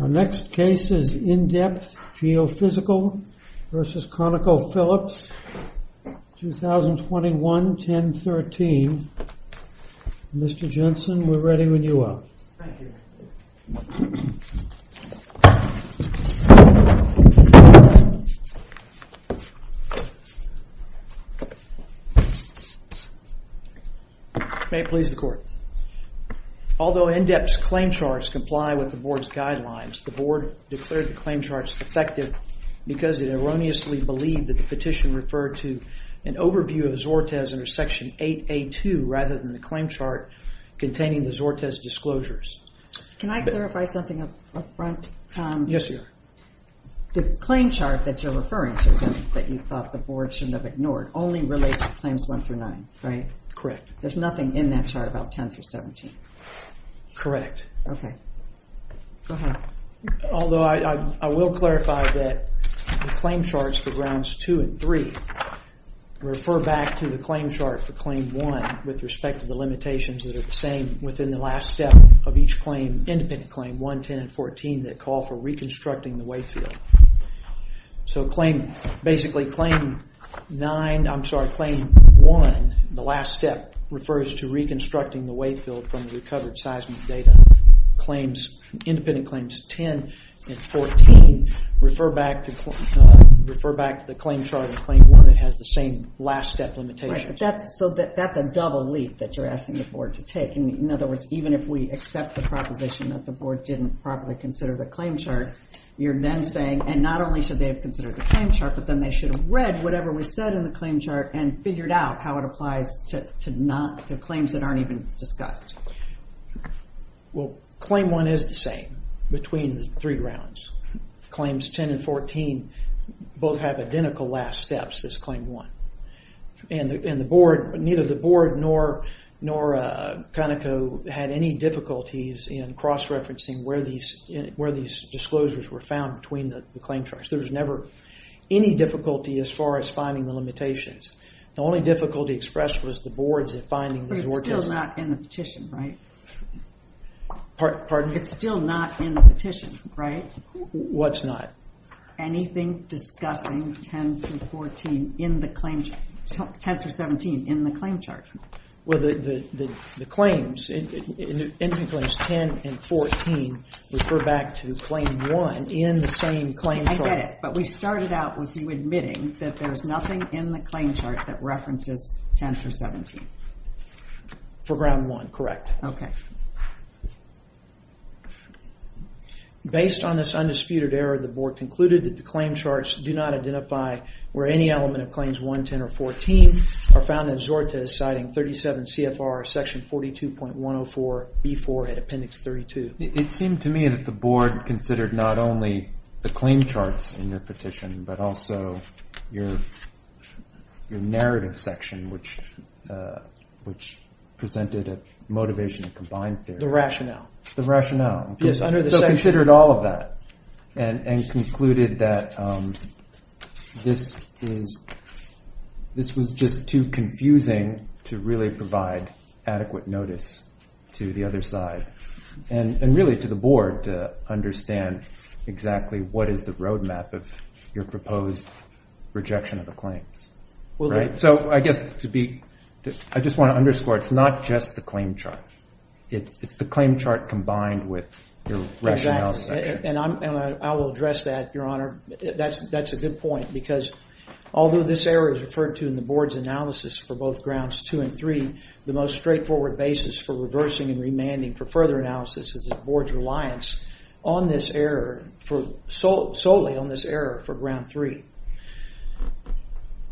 Our next case is In-Depth Geophysical v. ConocoPhillips, 2021-10-13. Mr. Jensen, we're ready when you are. Thank you. May it please the Court. Although In-Depth's claim charts comply with the Board's guidelines, the Board declared the claim charts defective because it erroneously believed that the petition referred to an overview of the Zortes under Section 8A2 rather than the claim chart containing the Zortes disclosures. Can I clarify something up front? Yes, ma'am. The claim chart that you're referring to, that you thought the Board shouldn't have ignored, only relates to Claims 1 through 9, right? Correct. There's nothing in that chart about 10 through 17? Correct. Okay. Go ahead. Although I will clarify that the claim charts for Grounds 2 and 3 refer back to the claim chart for Claim 1 with respect to the limitations that are the same within the last step of each independent claim, 1, 10, and 14, that call for reconstructing the wayfield. So basically, Claim 1, the last step, refers to reconstructing the wayfield from the recovered seismic data. Independent Claims 10 and 14 refer back to the claim chart in Claim 1 that has the same last step limitations. So that's a double leap that you're asking the Board to take. In other words, even if we accept the proposition that the Board didn't properly consider the claim chart, you're then saying, and not only should they have considered the claim chart, but then they should have read whatever was said in the claim chart and figured out how it applies to claims that aren't even discussed. Well, Claim 1 is the same between the three grounds. Claims 10 and 14 both have identical last steps as Claim 1. And neither the Board nor Conoco had any difficulties in cross-referencing where these disclosures were found between the claim charts. There was never any difficulty as far as finding the limitations. The only difficulty expressed was the Board's finding the... But it's still not in the petition, right? Pardon me? It's still not in the petition, right? What's not? Anything discussing 10 through 17 in the claim chart. Well, the claims, in the claims 10 and 14 refer back to Claim 1 in the same claim chart. I get it. But we started out with you admitting that there's nothing in the claim chart that references 10 through 17. For Ground 1, correct. Okay. Based on this undisputed error, the Board concluded that the claim charts do not identify where any element of Claims 1, 10, or 14 are found in Zortes citing 37 CFR Section 42.104B4 at Appendix 32. It seemed to me that the Board considered not only the claim charts in your petition, but also your narrative section, which presented a motivation to combine theory. The rationale. The rationale. Yes, under the section. So it considered all of that and concluded that this was just too confusing to really provide adequate notice to the other side and really to the Board to understand exactly what is the roadmap of your proposed rejection of the claims. So I just want to underscore it's not just the claim chart. It's the claim chart combined with your rationale section. And I will address that, Your Honor. That's a good point because although this error is referred to in the Board's analysis for both Grounds 2 and 3, the most straightforward basis for reversing and remanding for further analysis is the Board's reliance solely on this error for Ground 3.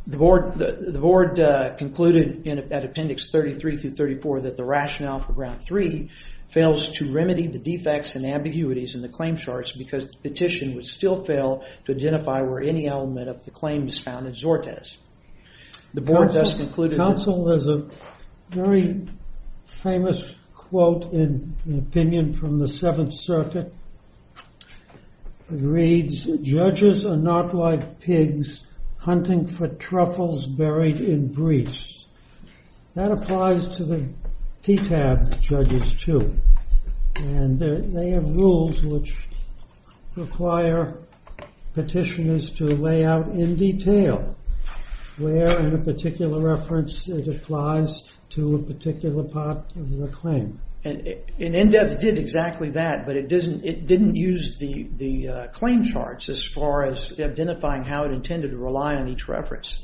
The Board concluded at Appendix 33 through 34 that the rationale for Ground 3 fails to remedy the defects and ambiguities in the claim charts because the petition would still fail to identify where any element of the claim is found in Zortes. The Board thus concluded... Counsel, there's a very famous quote in opinion from the Seventh Circuit. It reads, Judges are not like pigs hunting for truffles buried in briefs. That applies to the PTAB judges too. And they have rules which require petitioners to lay out in detail where in a particular reference it applies to a particular part of the claim. And in-depth it did exactly that, but it didn't use the claim charts as far as identifying how it intended to rely on each reference.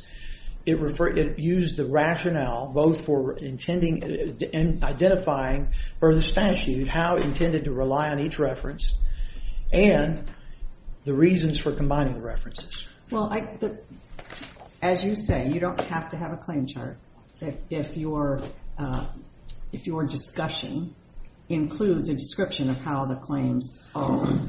It used the rationale both for intending and identifying for the statute how it intended to rely on each reference and the reasons for combining references. Well, as you say, you don't have to have a claim chart if your discussion includes a description of how the claims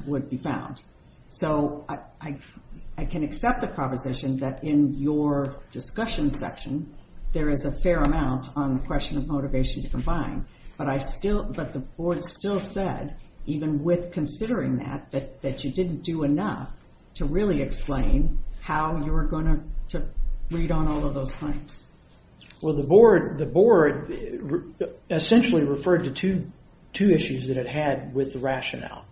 would be found. So I can accept the proposition that in your discussion section there is a fair amount on the question of motivation to combine, but the Board still said, even with considering that, that you didn't do enough to really explain how you were going to read on all of those claims. Well, the Board essentially referred to two issues that it had with the rationale.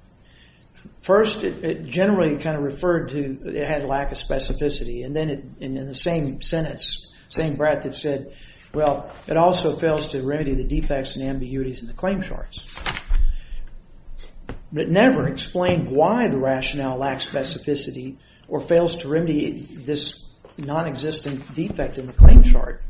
First, it generally kind of referred to it had a lack of specificity. And then in the same sentence, same breath, it said, well, it also fails to remedy the defects and ambiguities in the claim charts. But it never explained why the rationale lacks specificity or fails to remedy this nonexistent defect in the claim chart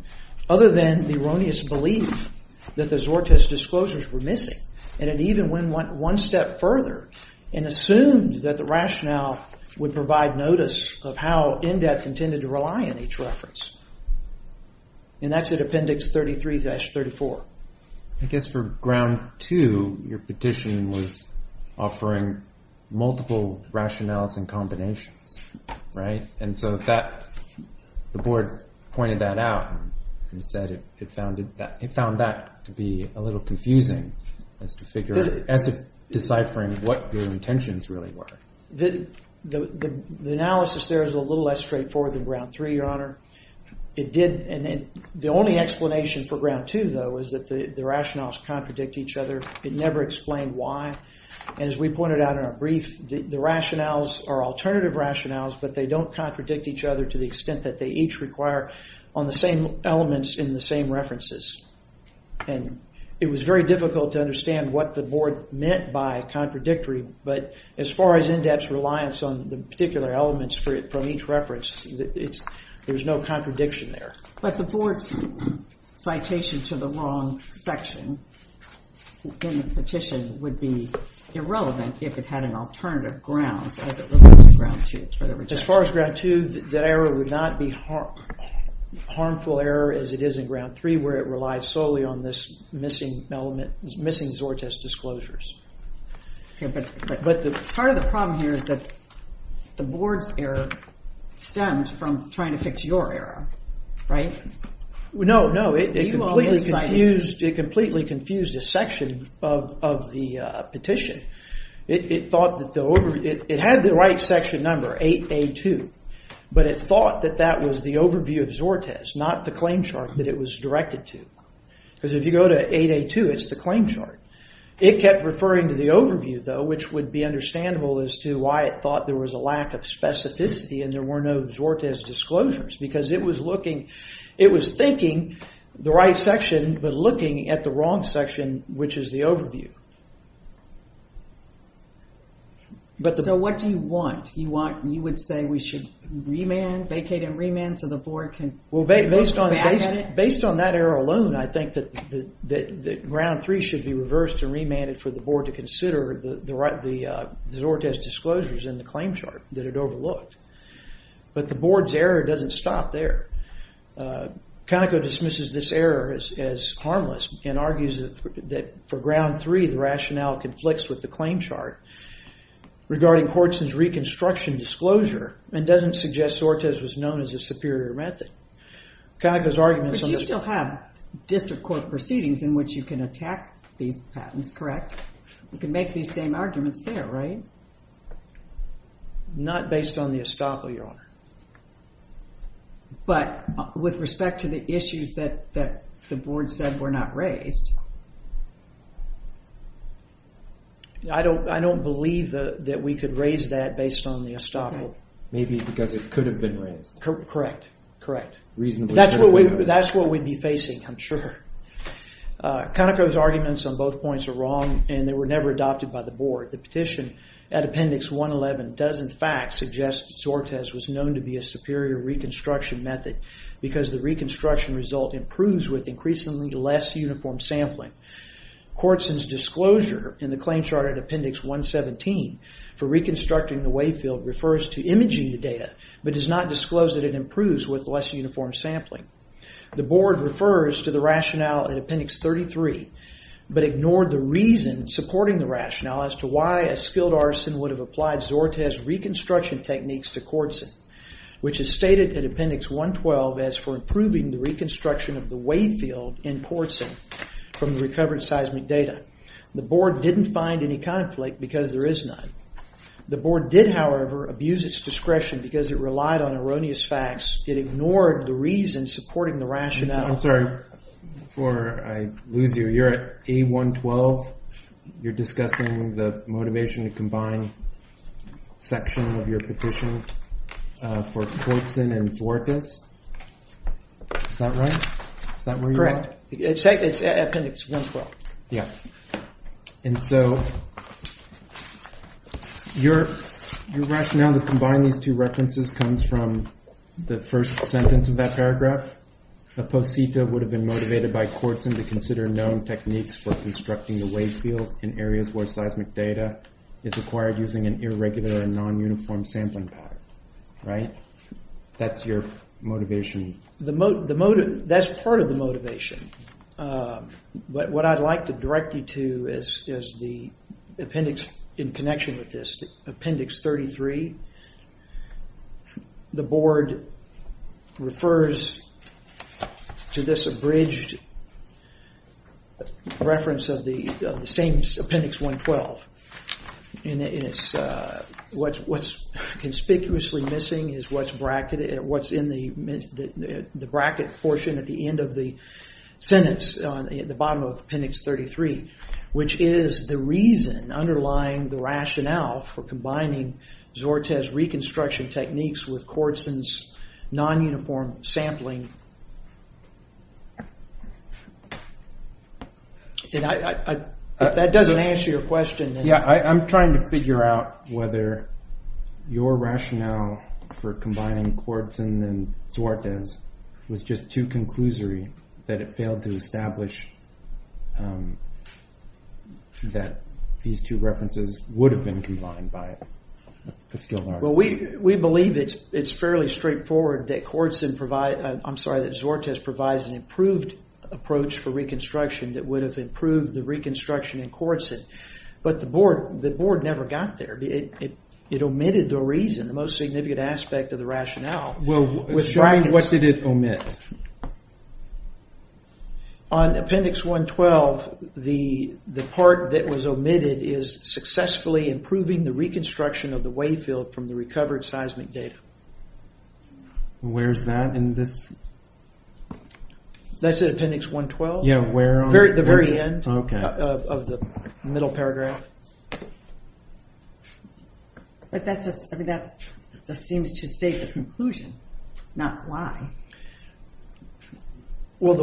other than the erroneous belief that the Zortes disclosures were missing. And it even went one step further and assumed that the rationale would provide notice of how in-depth intended to rely on each reference. And that's at Appendix 33-34. I guess for Ground 2, your petition was offering multiple rationales and combinations, right? And so the Board pointed that out and said it found that to be a little confusing as to deciphering what your intentions really were. The analysis there is a little less straightforward than Ground 3, Your Honor. The only explanation for Ground 2, though, is that the rationales contradict each other. It never explained why. And as we pointed out in our brief, the rationales are alternative rationales, but they don't contradict each other to the extent that they each require on the same elements in the same references. And it was very difficult to understand what the Board meant by contradictory, but as far as in-depth reliance on the particular elements from each reference, there's no contradiction there. But the Board's citation to the wrong section in the petition would be irrelevant if it had an alternative grounds as it relates to Ground 2. As far as Ground 2, that error would not be harmful error as it is in Ground 3 where it relies solely on this missing Zortes disclosures. But part of the problem here is that the Board's error stemmed from trying to fix your error, right? No, no. It completely confused a section of the petition. It had the right section number, 8A2, but it thought that that was the overview of Zortes, not the claim chart that it was directed to. Because if you go to 8A2, it's the claim chart. It kept referring to the overview, though, which would be understandable as to why it thought there was a lack of specificity and there were no Zortes disclosures because it was thinking the right section, but looking at the wrong section, which is the overview. So what do you want? You would say we should vacate and remand so the Board can look back at it? Based on that error alone, I think that Ground 3 should be reversed and remanded for the Board to consider the Zortes disclosures in the claim chart that it overlooked. But the Board's error doesn't stop there. Conoco dismisses this error as harmless and argues that for Ground 3, the rationale conflicts with the claim chart regarding Courtson's reconstruction disclosure and doesn't suggest Zortes was known as a superior method. But you still have district court proceedings in which you can attack these patents, correct? You can make these same arguments there, right? Not based on the estoppel, Your Honor. But with respect to the issues that the Board said were not raised? I don't believe that we could raise that based on the estoppel. Maybe because it could have been raised. Correct, correct. That's what we'd be facing, I'm sure. Conoco's arguments on both points are wrong and they were never adopted by the Board. The petition at Appendix 111 does in fact suggest that Zortes was known to be a superior reconstruction method because the reconstruction result improves with increasingly less uniform sampling. Courtson's disclosure in the claim chart at Appendix 117 for reconstructing the wave field refers to imaging the data, but does not disclose that it improves with less uniform sampling. The Board refers to the rationale at Appendix 33, but ignored the reason supporting the rationale as to why a skilled artisan would have applied Zortes' reconstruction techniques to Courtson, which is stated at Appendix 112 as for improving the reconstruction of the wave field in Courtson from the recovered seismic data. The Board didn't find any conflict because there is none. The Board did, however, abuse its discretion because it relied on erroneous facts. It ignored the reason supporting the rationale. I'm sorry before I lose you. You're at A112. You're discussing the motivation to combine section of your petition for Courtson and Zortes. Is that right? Correct. It's at Appendix 112. Yeah. And so your rationale to combine these two references comes from the first sentence of that paragraph. A posita would have been motivated by Courtson to consider known techniques for constructing the wave field in areas where seismic data is acquired using an irregular and non-uniform sampling pattern. Right? That's your motivation. That's part of the motivation. But what I'd like to direct you to is the appendix in connection with this, Appendix 33. The Board refers to this abridged reference of the same Appendix 112. And what's conspicuously missing is what's in the bracket portion at the end of the sentence, at the bottom of Appendix 33, which is the reason underlying the rationale for combining Zortes' reconstruction techniques with Courtson's non-uniform sampling. If that doesn't answer your question... Yeah, I'm trying to figure out whether your rationale for combining Courtson and Zortes was just too conclusory, that it failed to establish that these two references would have been combined by skill marks. Well, we believe it's fairly straightforward that Zortes provides an improved approach for reconstruction that would have improved the reconstruction in Courtson. But the Board never got there. It omitted the reason, the most significant aspect of the rationale. Well, what did it omit? On Appendix 112, the part that was omitted is successfully improving the reconstruction of the wave field from the recovered seismic data. Where's that in this... That's in Appendix 112. Yeah, where on... The very end of the middle paragraph. But that just seems to state the conclusion, not why. Well,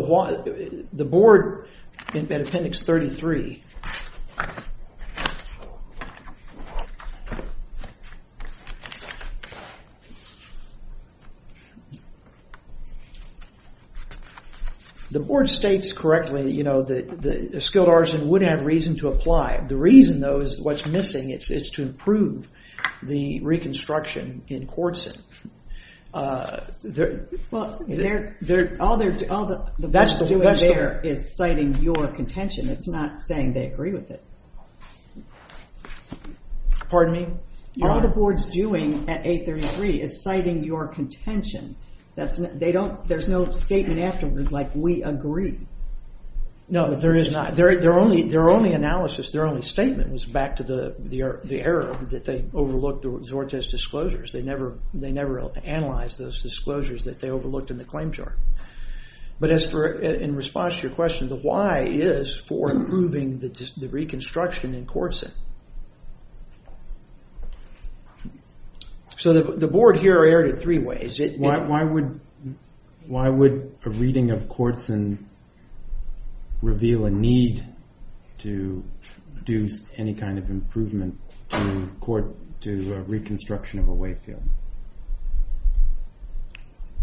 the Board, in Appendix 33... The Board states correctly, you know, that a skilled artisan would have reason to apply. The reason, though, is what's missing. It's to improve the reconstruction in Courtson. Well, all the Board's doing there is citing your contention. It's not saying they agree with it. Pardon me? All the Board's doing at 833 is citing your contention. There's no statement afterwards like, we agree. No, there is not. Their only analysis, their only statement, was back to the error that they overlooked Zortes' disclosures. They never analyzed those disclosures that they overlooked in the claim chart. But in response to your question, the why is for improving the reconstruction in Courtson. So the Board here erred in three ways. Why would a reading of Courtson reveal a need to do any kind of improvement to a reconstruction of a way field?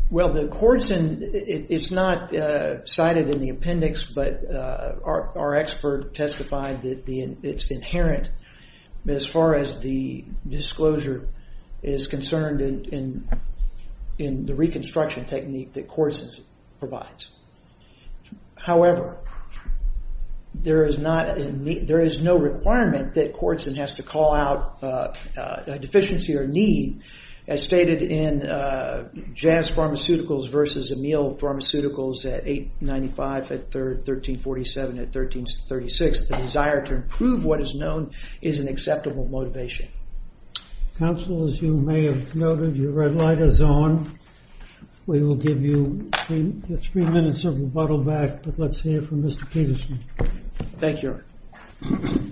Well, the Courtson, it's not cited in the appendix, but our expert testified that it's inherent as far as the disclosure is concerned in the reconstruction technique that Courtson provides. However, there is no requirement that Courtson has to call out a deficiency or need, as stated in Jazz Pharmaceuticals versus Emile Pharmaceuticals at 895, at 1347, at 1336. The desire to improve what is known is an acceptable motivation. Counsel, as you may have noted, your red light is on. We will give you three minutes of rebuttal back. But let's hear from Mr. Peterson. Thank you, Your Honor.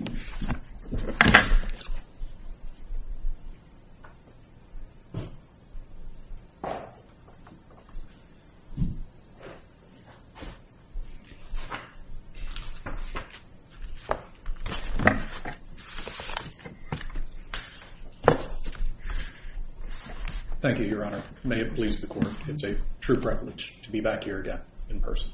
Thank you, Your Honor. May it please the Court. It's a true privilege to be back here again in person.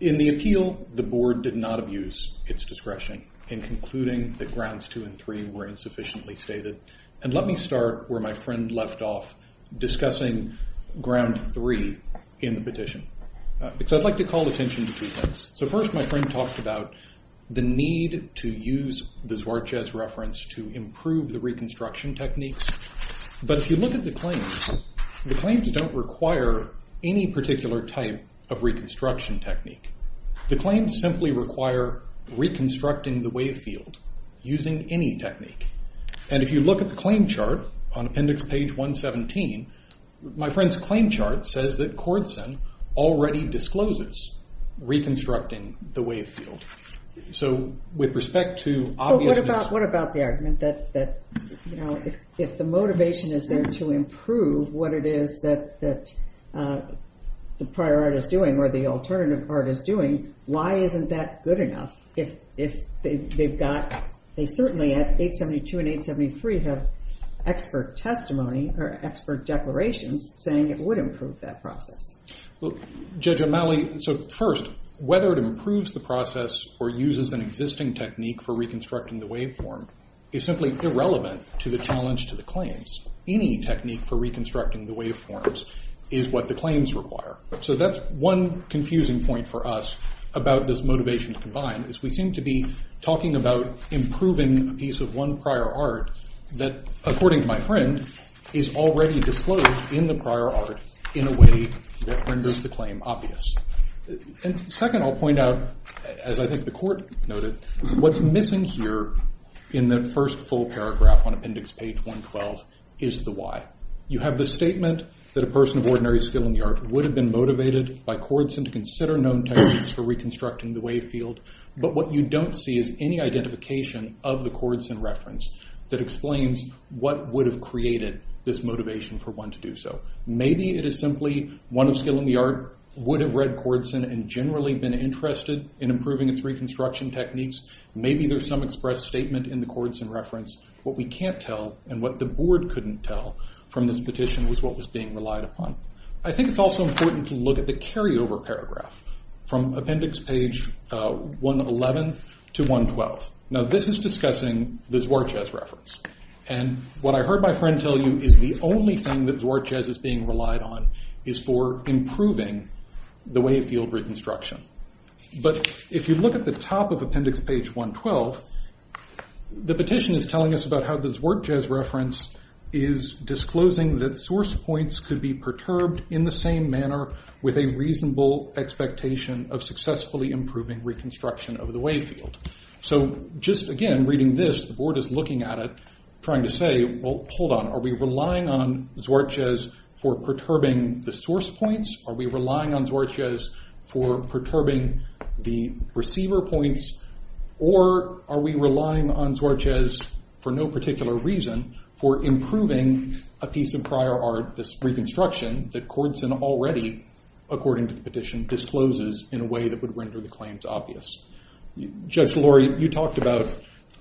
In the appeal, the Board did not abuse its discretion in concluding that grounds two and three were insufficiently stated. And let me start where my friend left off, discussing ground three in the petition. Because I'd like to call attention to two things. So first, my friend talks about the need to use the Duartez reference to improve the reconstruction techniques. But if you look at the claims, the claims don't require any particular type of reconstruction technique. The claims simply require reconstructing the wave field using any technique. And if you look at the claim chart on appendix page 117, my friend's claim chart says that Cordeson already discloses reconstructing the wave field. So with respect to obviousness. What about the argument that if the motivation is there to improve what it is that the prior art is doing or the alternative art is doing, why isn't that good enough? If they've got, they certainly at 872 and 873 have expert testimony or expert declarations saying it would improve that process. Well, Judge O'Malley, so first, whether it improves the process or uses an existing technique for reconstructing the waveform is simply irrelevant to the challenge to the claims. Any technique for reconstructing the waveforms is what the claims require. So that's one confusing point for us about this motivation to combine, is we seem to be talking about improving a piece of one prior art that, according to my friend, is already disclosed in the prior art in a way that renders the claim obvious. And second, I'll point out, as I think the court noted, what's missing here in that first full paragraph on appendix page 112 is the why. You have the statement that a person of ordinary skill in the art would have been motivated by Cordeson to consider known techniques for reconstructing the wave field. But what you don't see is any identification of the Cordeson reference that explains what would have created this motivation for one to do so. Maybe it is simply one of skill in the art would have read Cordeson and generally been interested in improving its reconstruction techniques. Maybe there's some express statement in the Cordeson reference. What we can't tell and what the board couldn't tell from this petition was what was being relied upon. I think it's also important to look at the carryover paragraph from appendix page 111 to 112. Now this is discussing the Zwartjes reference. And what I heard my friend tell you is the only thing that Zwartjes is being relied on is for improving the wave field reconstruction. But if you look at the top of appendix page 112, the petition is telling us about how the Zwartjes reference is disclosing that source points could be perturbed in the same manner with a reasonable expectation of successfully improving reconstruction of the wave field. So just again reading this, the board is looking at it trying to say, well hold on, are we relying on Zwartjes for perturbing the source points? Are we relying on Zwartjes for perturbing the receiver points? Or are we relying on Zwartjes for no particular reason for improving a piece of prior art, this reconstruction that Cordeson already, according to the petition, discloses in a way that would render the claims obvious. Judge Laurie, you talked about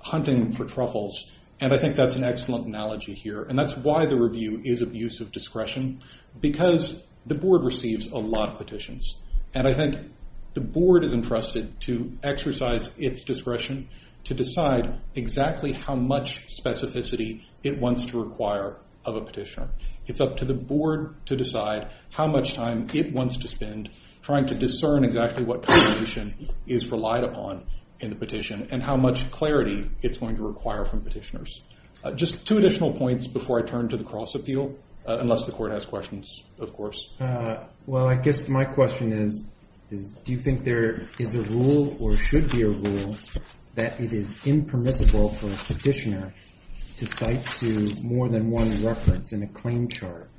hunting for truffles. And I think that's an excellent analogy here. And that's why the review is of use of discretion because the board receives a lot of petitions. And I think the board is entrusted to exercise its discretion to decide exactly how much specificity it wants to require of a petitioner. It's up to the board to decide how much time it wants to spend trying to discern exactly what contribution is relied upon in the petition and how much clarity it's going to require from petitioners. Just two additional points before I turn to the cross-appeal, unless the court has questions, of course. Well, I guess my question is, do you think there is a rule or should be a rule that it is impermissible for a petitioner to cite to more than one reference in a claim chart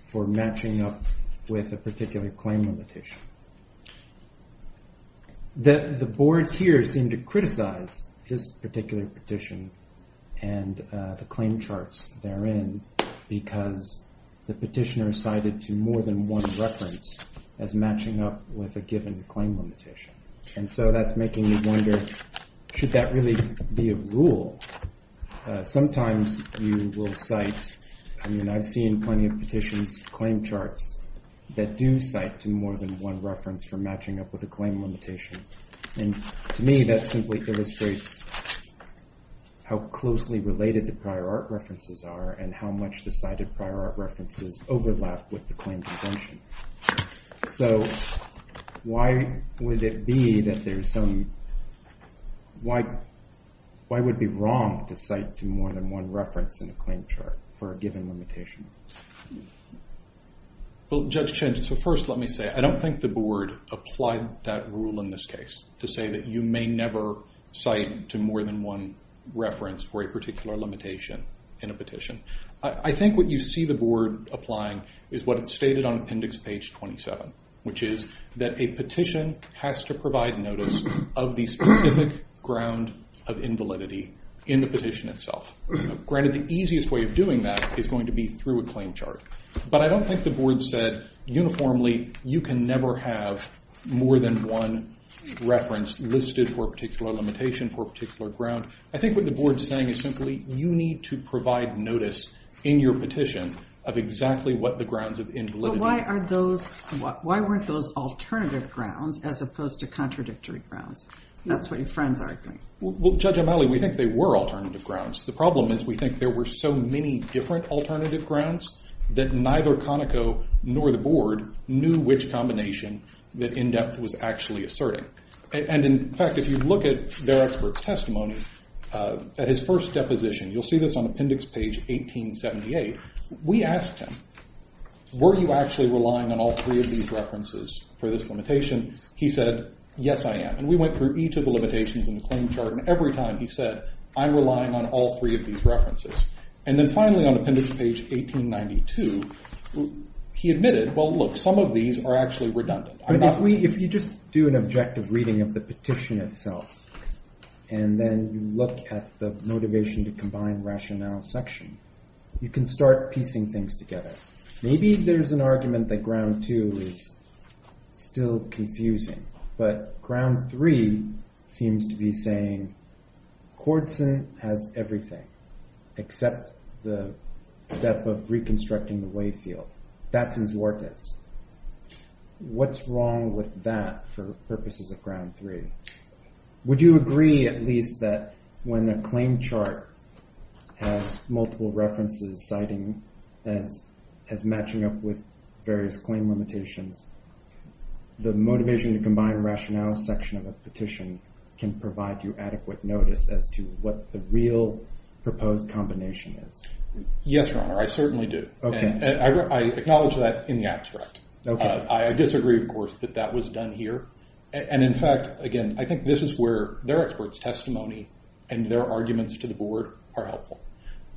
for matching up with a particular claim limitation? The board here seemed to criticize this particular petition and the claim charts therein because the petitioner cited to more than one reference as matching up with a given claim limitation. And so that's making me wonder, should that really be a rule? Sometimes you will cite... I mean, I've seen plenty of petitions, claim charts, that do cite to more than one reference for matching up with a claim limitation. And to me, that simply illustrates how closely related the prior art references are and how much the cited prior art references overlap with the claim convention. So why would it be that there's some... Why would it be wrong to cite to more than one reference in a claim chart for a given limitation? Well, Judge Chen, so first let me say, I don't think the board applied that rule in this case to say that you may never cite to more than one reference for a particular limitation in a petition. I think what you see the board applying is what it stated on appendix page 27, which is that a petition has to provide notice of the specific ground of invalidity in the petition itself. Granted, the easiest way of doing that is going to be through a claim chart. But I don't think the board said uniformly you can never have more than one reference listed for a particular limitation, for a particular ground. I think what the board's saying is simply you need to provide notice in your petition of exactly what the grounds of invalidity... But why aren't those alternative grounds as opposed to contradictory grounds? That's what your friend's arguing. Well, Judge Amali, we think they were alternative grounds. The problem is we think there were so many different alternative grounds that neither Conoco nor the board knew which combination that in-depth was actually asserting. And in fact, if you look at their expert testimony, at his first deposition, you'll see this on appendix page 1878, we asked him, were you actually relying on all three of these references for this limitation? He said, yes, I am. And we went through each of the limitations in the claim chart, and every time he said, I'm relying on all three of these references. And then finally on appendix page 1892, he admitted, well, look, some of these are actually redundant. If you just do an objective reading of the petition itself, and then look at the motivation to combine rationale section, you can start piecing things together. Maybe there's an argument that ground two is still confusing, but ground three seems to be saying Cordson has everything, except the step of reconstructing the way field. That's his work. What's wrong with that for purposes of ground three? Would you agree at least that when a claim chart has multiple references citing as matching up with various claim limitations, the motivation to combine rationale section of a petition can provide you adequate notice as to what the real proposed combination is? Yes, Your Honor, I certainly do. I acknowledge that in the abstract. I disagree, of course, that that was done here. And in fact, again, I think this is where their expert's testimony and their arguments to the board are helpful.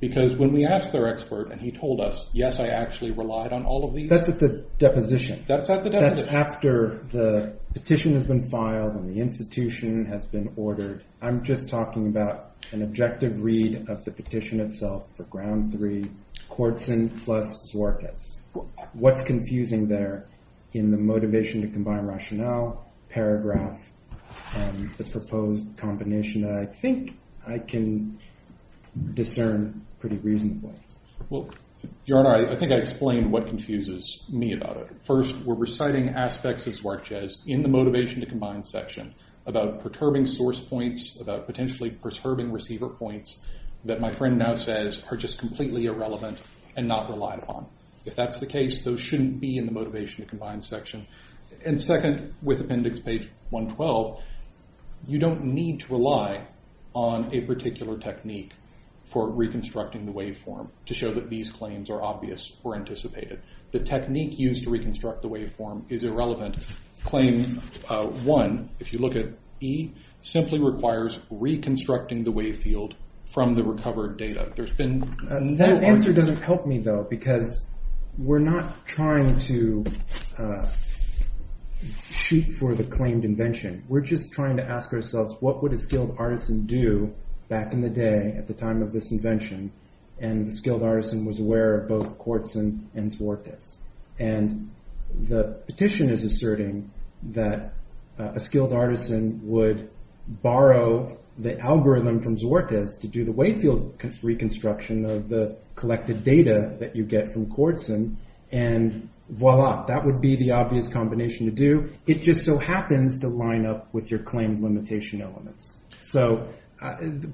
Because when we asked their expert, and he told us, yes, I actually relied on all of these. That's at the deposition. That's at the deposition. That's after the petition has been filed and the institution has been ordered. I'm just talking about an objective read of the petition itself for ground three, Cordson plus Zorkas. What's confusing there in the motivation to combine rationale paragraph and the proposed combination that I think I can discern pretty reasonably? Your Honor, I think I explained what confuses me about it. First, we're reciting aspects of Zorkas in the motivation to combine section about perturbing source points, about potentially perturbing receiver points that my friend now says are just completely irrelevant and not relied upon. If that's the case, those shouldn't be in the motivation to combine section. And second, with appendix page 112, you don't need to rely on a particular technique for reconstructing the waveform to show that these claims are obvious or anticipated. The technique used to reconstruct the waveform is irrelevant. Claim one, if you look at E, simply requires reconstructing the wave field from the recovered data. There's been- That answer doesn't help me though because we're not trying to shoot for the claimed invention. We're just trying to ask ourselves, what would a skilled artisan do back in the day at the time of this invention? And the skilled artisan was aware of both Kortzin and Zorkas. And the petition is asserting that a skilled artisan would borrow the algorithm from Zorkas to do the wave field reconstruction of the collected data that you get from Kortzin and voila, that would be the obvious combination to do. It just so happens to line up with your claimed limitation elements. So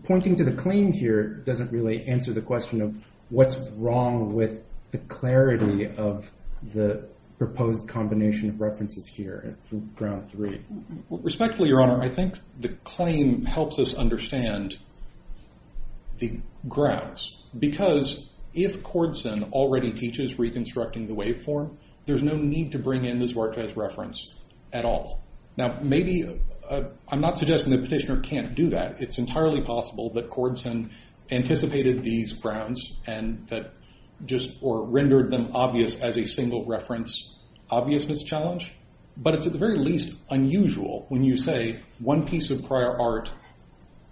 pointing to the claim here doesn't really answer the question of what's wrong with the clarity of the proposed combination of references here from ground three. Respectfully, Your Honor, I think the claim helps us understand the grounds. Because if Kortzin already teaches reconstructing the waveform, there's no need to bring in the Zorkas reference at all. Now maybe, I'm not suggesting the petitioner can't do that. It's entirely possible that Kortzin anticipated these grounds and that just, or rendered them obvious as a single reference obviousness challenge. But it's at the very least unusual when you say one piece of prior art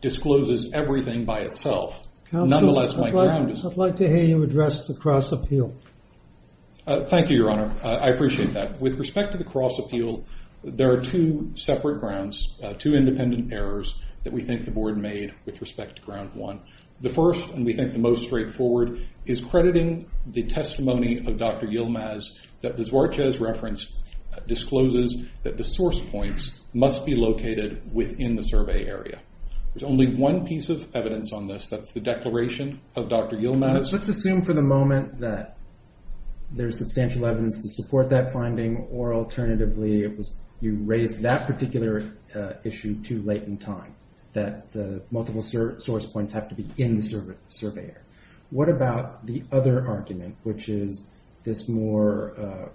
discloses everything by itself. Nonetheless, my ground is- Counselor, I'd like to hear you address the cross appeal. Thank you, Your Honor. I appreciate that. With respect to the cross appeal, there are two separate grounds, two independent errors that we think the board made with respect to ground one. The first, and we think the most straightforward, is crediting the testimony of Dr. Yilmaz that the Zorkas reference discloses that the source points must be located within the survey area. There's only one piece of evidence on this. That's the declaration of Dr. Yilmaz. Let's assume for the moment that there's substantial evidence to support that finding, or alternatively it was you raised that particular issue too late in time, that the multiple source points have to be in the survey area. What about the other argument, which is this more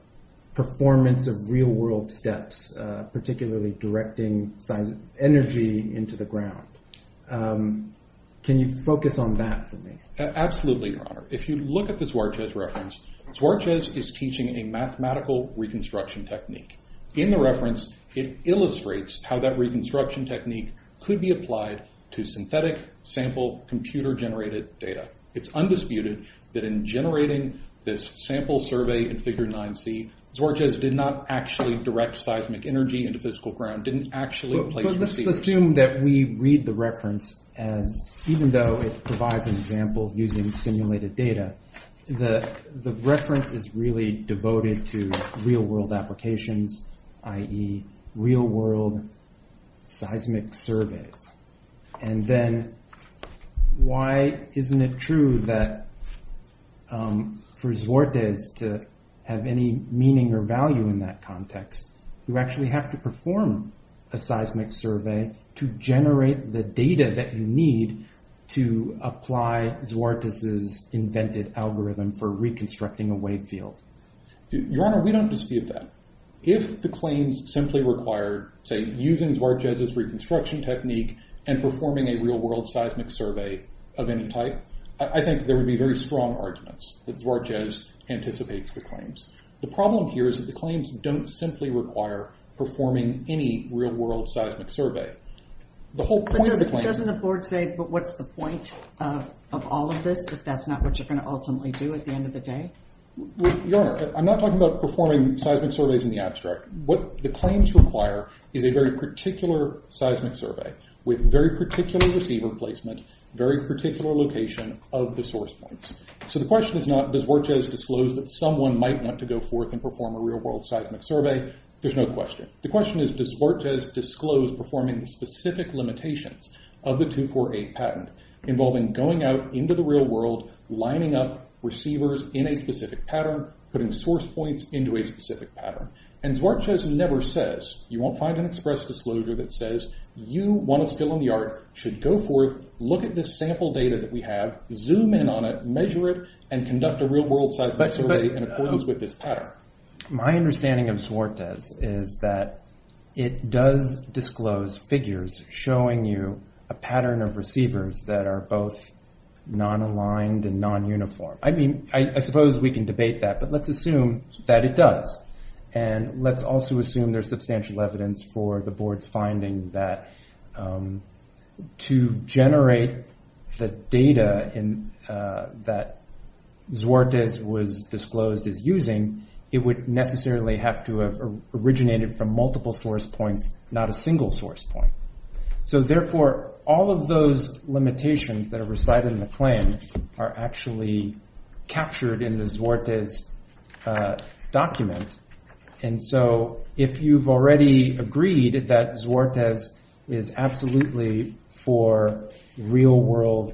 performance of real world steps, into the ground? Can you focus on that for me? Absolutely, Your Honor. If you look at the Zorkas reference, Zorkas is teaching a mathematical reconstruction technique. In the reference, it illustrates how that reconstruction technique could be applied to synthetic sample computer generated data. It's undisputed that in generating this sample survey in Figure 9C, Zorkas did not actually direct seismic energy into physical ground, didn't actually place receivers. Let's assume that we read the reference as even though it provides an example using simulated data, the reference is really devoted to real world applications, i.e. real world seismic surveys. Then why isn't it true that for Zorkas to have any meaning or value in that context, you actually have to perform a seismic survey to generate the data that you need to apply Zorkas' invented algorithm for reconstructing a wave field? Your Honor, we don't dispute that. If the claims simply require, say, using Zorkas' reconstruction technique and performing a real world seismic survey of any type, I think there would be very strong arguments that Zorkas anticipates the claims. The problem here is that the claims don't simply require performing any real world seismic survey. The whole point of the claim... But doesn't the board say, but what's the point of all of this if that's not what you're going to ultimately do at the end of the day? Your Honor, I'm not talking about performing seismic surveys in the abstract. What the claims require is a very particular seismic survey with very particular receiver placement, very particular location of the source points. So the question is not, does Zorkas disclose that someone might want to go forth and perform a real world seismic survey? There's no question. The question is, does Zorkas disclose performing specific limitations of the 248 patent involving going out into the real world, lining up receivers in a specific pattern, putting source points into a specific pattern? And Zorkas never says, you won't find an express disclosure that says you want to fill in the arc, should go forth, look at this sample data that we have, zoom in on it, measure it, and conduct a real world seismic survey in accordance with this pattern. My understanding of Zorkas is that it does disclose figures showing you a pattern of receivers that are both non-aligned and non-uniform. I mean, I suppose we can debate that, but let's assume that it does. And let's also assume there's substantial evidence for the board's finding that to generate the data that Zorkas was disclosed as using, it would necessarily have to have multiple source points, not a single source point. So therefore, all of those limitations that are recited in the claim are actually captured in the Zorkas document. And so if you've already agreed that Zorkas is absolutely for real world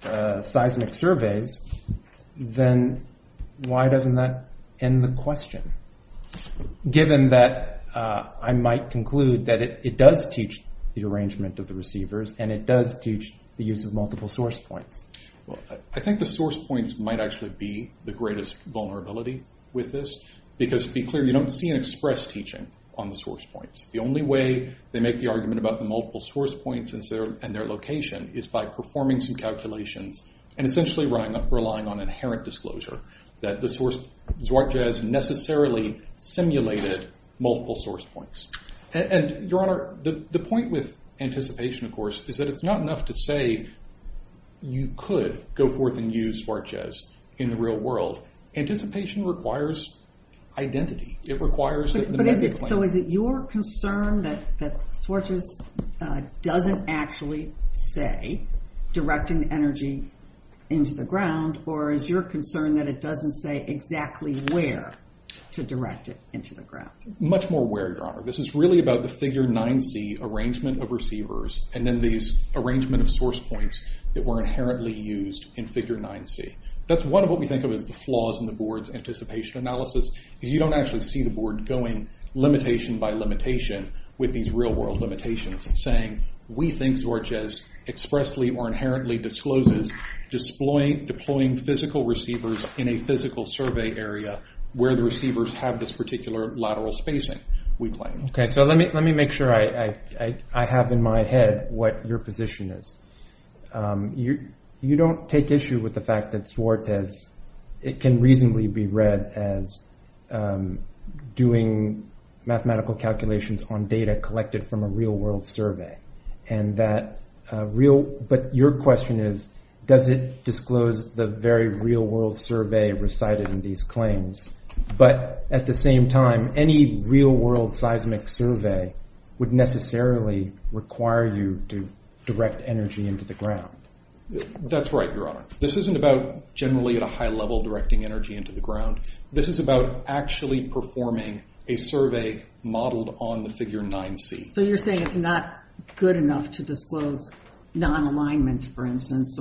seismic surveys, then why doesn't that end the question? Given that I might conclude that it does teach the arrangement of the receivers and it does teach the use of multiple source points. Well, I think the source points might actually be the greatest vulnerability with this because, to be clear, you don't see an express teaching on the source points. The only way they make the argument about the multiple source points and their location is by performing some calculations and essentially relying on inherent disclosure that the source Zorkas necessarily simulated multiple source points. And, Your Honor, the point with anticipation, of course, is that it's not enough to say you could go forth and use Zorkas in the real world. Anticipation requires identity. It requires... So is it your concern that Zorkas doesn't actually say direct an energy into the ground or is your concern that it doesn't say exactly where to direct it into the ground? Much more where, Your Honor. This is really about the figure 9C arrangement of receivers and then these arrangement of source points that were inherently used in figure 9C. That's one of what we think of as the flaws in the board's anticipation analysis is you don't actually see the board going limitation by limitation with these real world limitations and saying we think Zorkas expressly or inherently discloses deploying physical receivers in a physical survey area where the receivers have this particular lateral spacing, we claim. Okay, so let me make sure I have in my head what your position is. You don't take issue with the fact that Zorkas, it can reasonably be read as doing mathematical calculations on data collected from a real world survey and that real... does it disclose the very real world survey recited in these claims but at the same time, any real world seismic survey would necessarily require you to direct energy into the ground. That's right, Your Honor. This isn't about generally at a high level directing energy into the ground. This is about actually performing a survey modeled on the figure 9C. So you're saying it's not good enough to disclose non-alignment for instance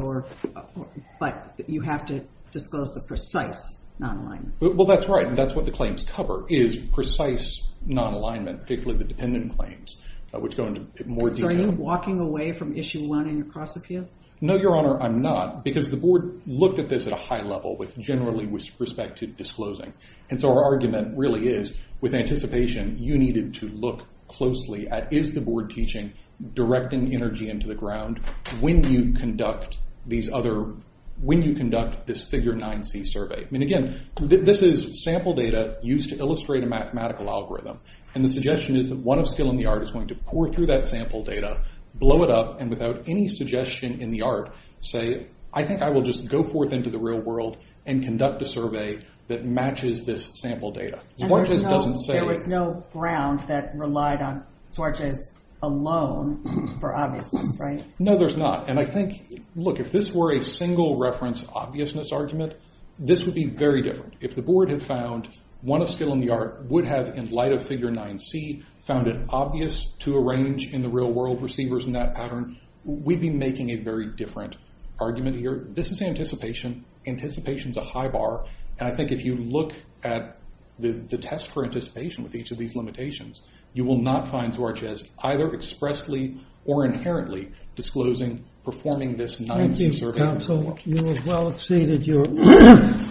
but you have to disclose the precise non-alignment. Well, that's right. That's what the claims cover is precise non-alignment particularly the dependent claims which go into more detail. So are you walking away from issue 1 in your cross-appeal? No, Your Honor, I'm not because the board looked at this at a high level with generally with respect to disclosing and so our argument really is with anticipation, you needed to look closely at is the board teaching directing energy into the ground when you conduct these other when you conduct this figure 9C survey. And again, this is sample data used to illustrate a mathematical algorithm and the suggestion is that one of skill in the art is going to pour through that sample data blow it up and without any suggestion in the art say, I think I will just go forth into the real world and conduct a survey that matches this sample data. There was no ground that relied on Suarte's alone for obviousness, right? No, there's not. And I think, look, if this were a single reference obviousness argument, this would be very different. If the board had found one of skill in the art would have in light of figure 9C found it obvious to arrange in the real world receivers in that pattern we'd be making a very different argument here. This is anticipation. Anticipation is a high bar. And I think if you look at the test for anticipation with each of these limitations you will not find Suarte as either expressly or inherently disclosing performing this 9C survey. Thank you, counsel. You have well exceeded your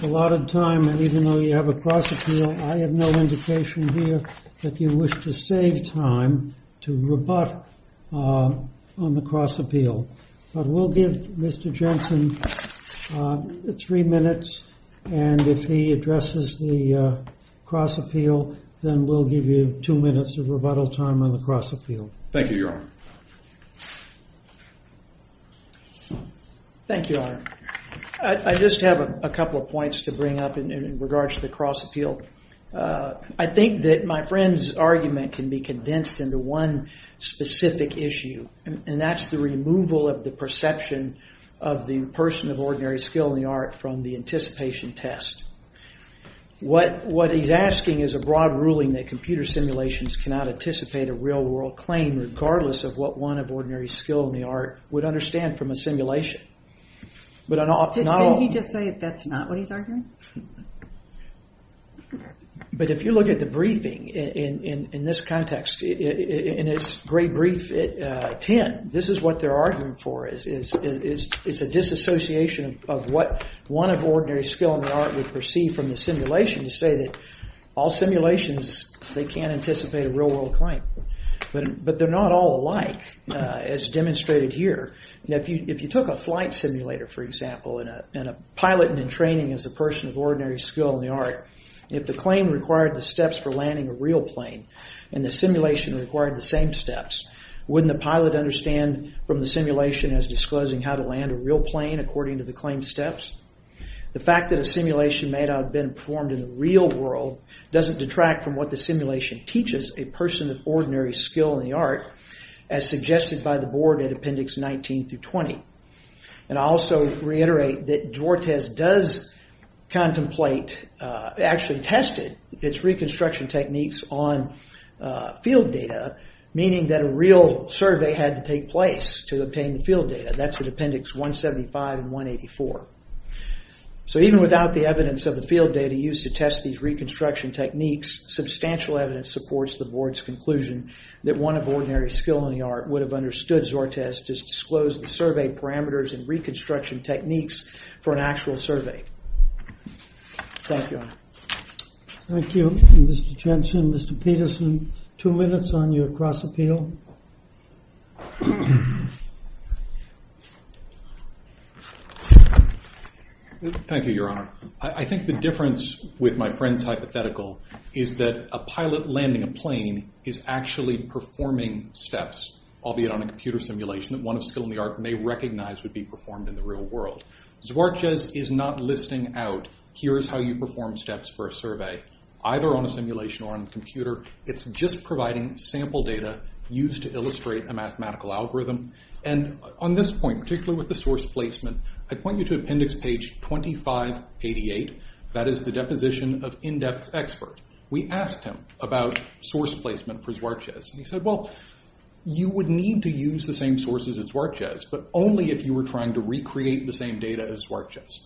allotted time and even though you have a cross appeal I have no indication here that you wish to save time to rebut on the cross appeal. But we'll give Mr. Jensen three minutes and if he addresses the cross appeal then we'll give you two minutes of rebuttal time on the cross appeal. Thank you, your honor. Thank you, your honor. I just have a couple of points to bring up in regards to the cross appeal. I think that my friend's argument can be condensed into one specific issue and that's the removal of the perception of the person of ordinary skill in the art from the anticipation test. What he's asking is a broad ruling that computer simulations cannot anticipate a real world claim regardless of what one of ordinary skill in the art would understand from a simulation. Didn't he just say that's not what he's arguing? But if you look at the briefing in this context in his great brief 10 this is what they're arguing for is a disassociation of what one of ordinary skill in the art would perceive from the simulation to say that all simulations they can't anticipate a real world claim. But they're not all alike as demonstrated here. If you took a flight simulator for example and a pilot in training is a person of ordinary skill in the art if the claim required the steps for landing a real plane and the simulation required the same steps wouldn't the pilot understand from the simulation as disclosing how to land a real plane according to the claimed steps? The fact that a simulation may not have been performed in the real world doesn't detract from what the simulation teaches a person of ordinary skill in the art as suggested by the board in appendix 19 through 20. And I also reiterate that Duartes does contemplate actually tested its reconstruction techniques on field data meaning that a real survey had to take place to obtain the field data. That's in appendix 175 and 184. So even without the evidence of the field data used to test these reconstruction techniques substantial evidence supports the board's conclusion that one of ordinary skill in the art would have understood Duartes to disclose the survey parameters and reconstruction techniques for an actual survey. Thank you. Thank you Mr. Jensen. Mr. Peterson two minutes on your cross appeal. Thank you your honor. I think the difference with my friend's hypothetical is that a pilot landing a plane is actually performing steps albeit on a computer simulation that one of skill in the art may recognize would be performed in the real world. Duartes is not listing out here's how you perform steps for a survey either on a simulation or on a computer it's just providing sample data used to illustrate a mathematical algorithm. And on this point particularly with the source placement I point you to appendix page 2588 that is the deposition of in-depth expert. We asked him about source placement for Duartes. He said well you would need to use the same sources as Duartes but only if you were trying to recreate the same data as Duartes.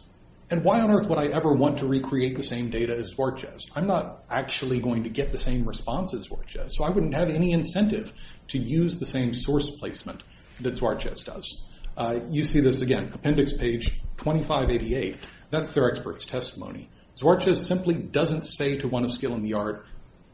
And why on earth would I ever want to recreate the same data as Duartes. I'm not actually going to get the same response as Duartes. So I wouldn't have any incentive to use the same source placement that Duartes does. You see this again appendix page 2588 that's their expert's testimony. Duartes simply doesn't say to one of skill in the art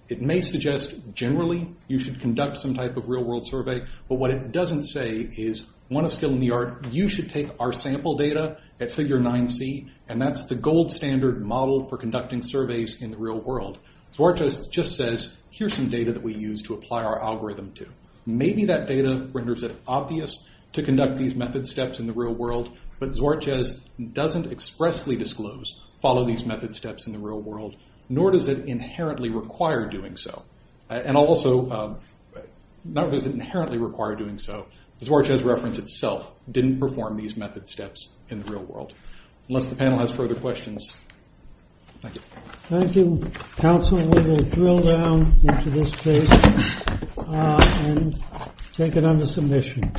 it may suggest generally you should conduct some type of real world survey but what it doesn't say is one of skill in the art you should take our sample data at figure 9C and that's the gold standard model for conducting surveys in the real world. Duartes just says here's some data that we use to apply our algorithm to. Maybe that data renders it obvious to conduct these method steps in the real world but Duartes doesn't expressly disclose follow these method steps in the real world nor does it inherently require doing so. And also not does it inherently require doing so Duartes reference itself didn't perform these method steps in the real world. Unless the panel has further questions. Thank you. Council will drill down into this case and take it under submission.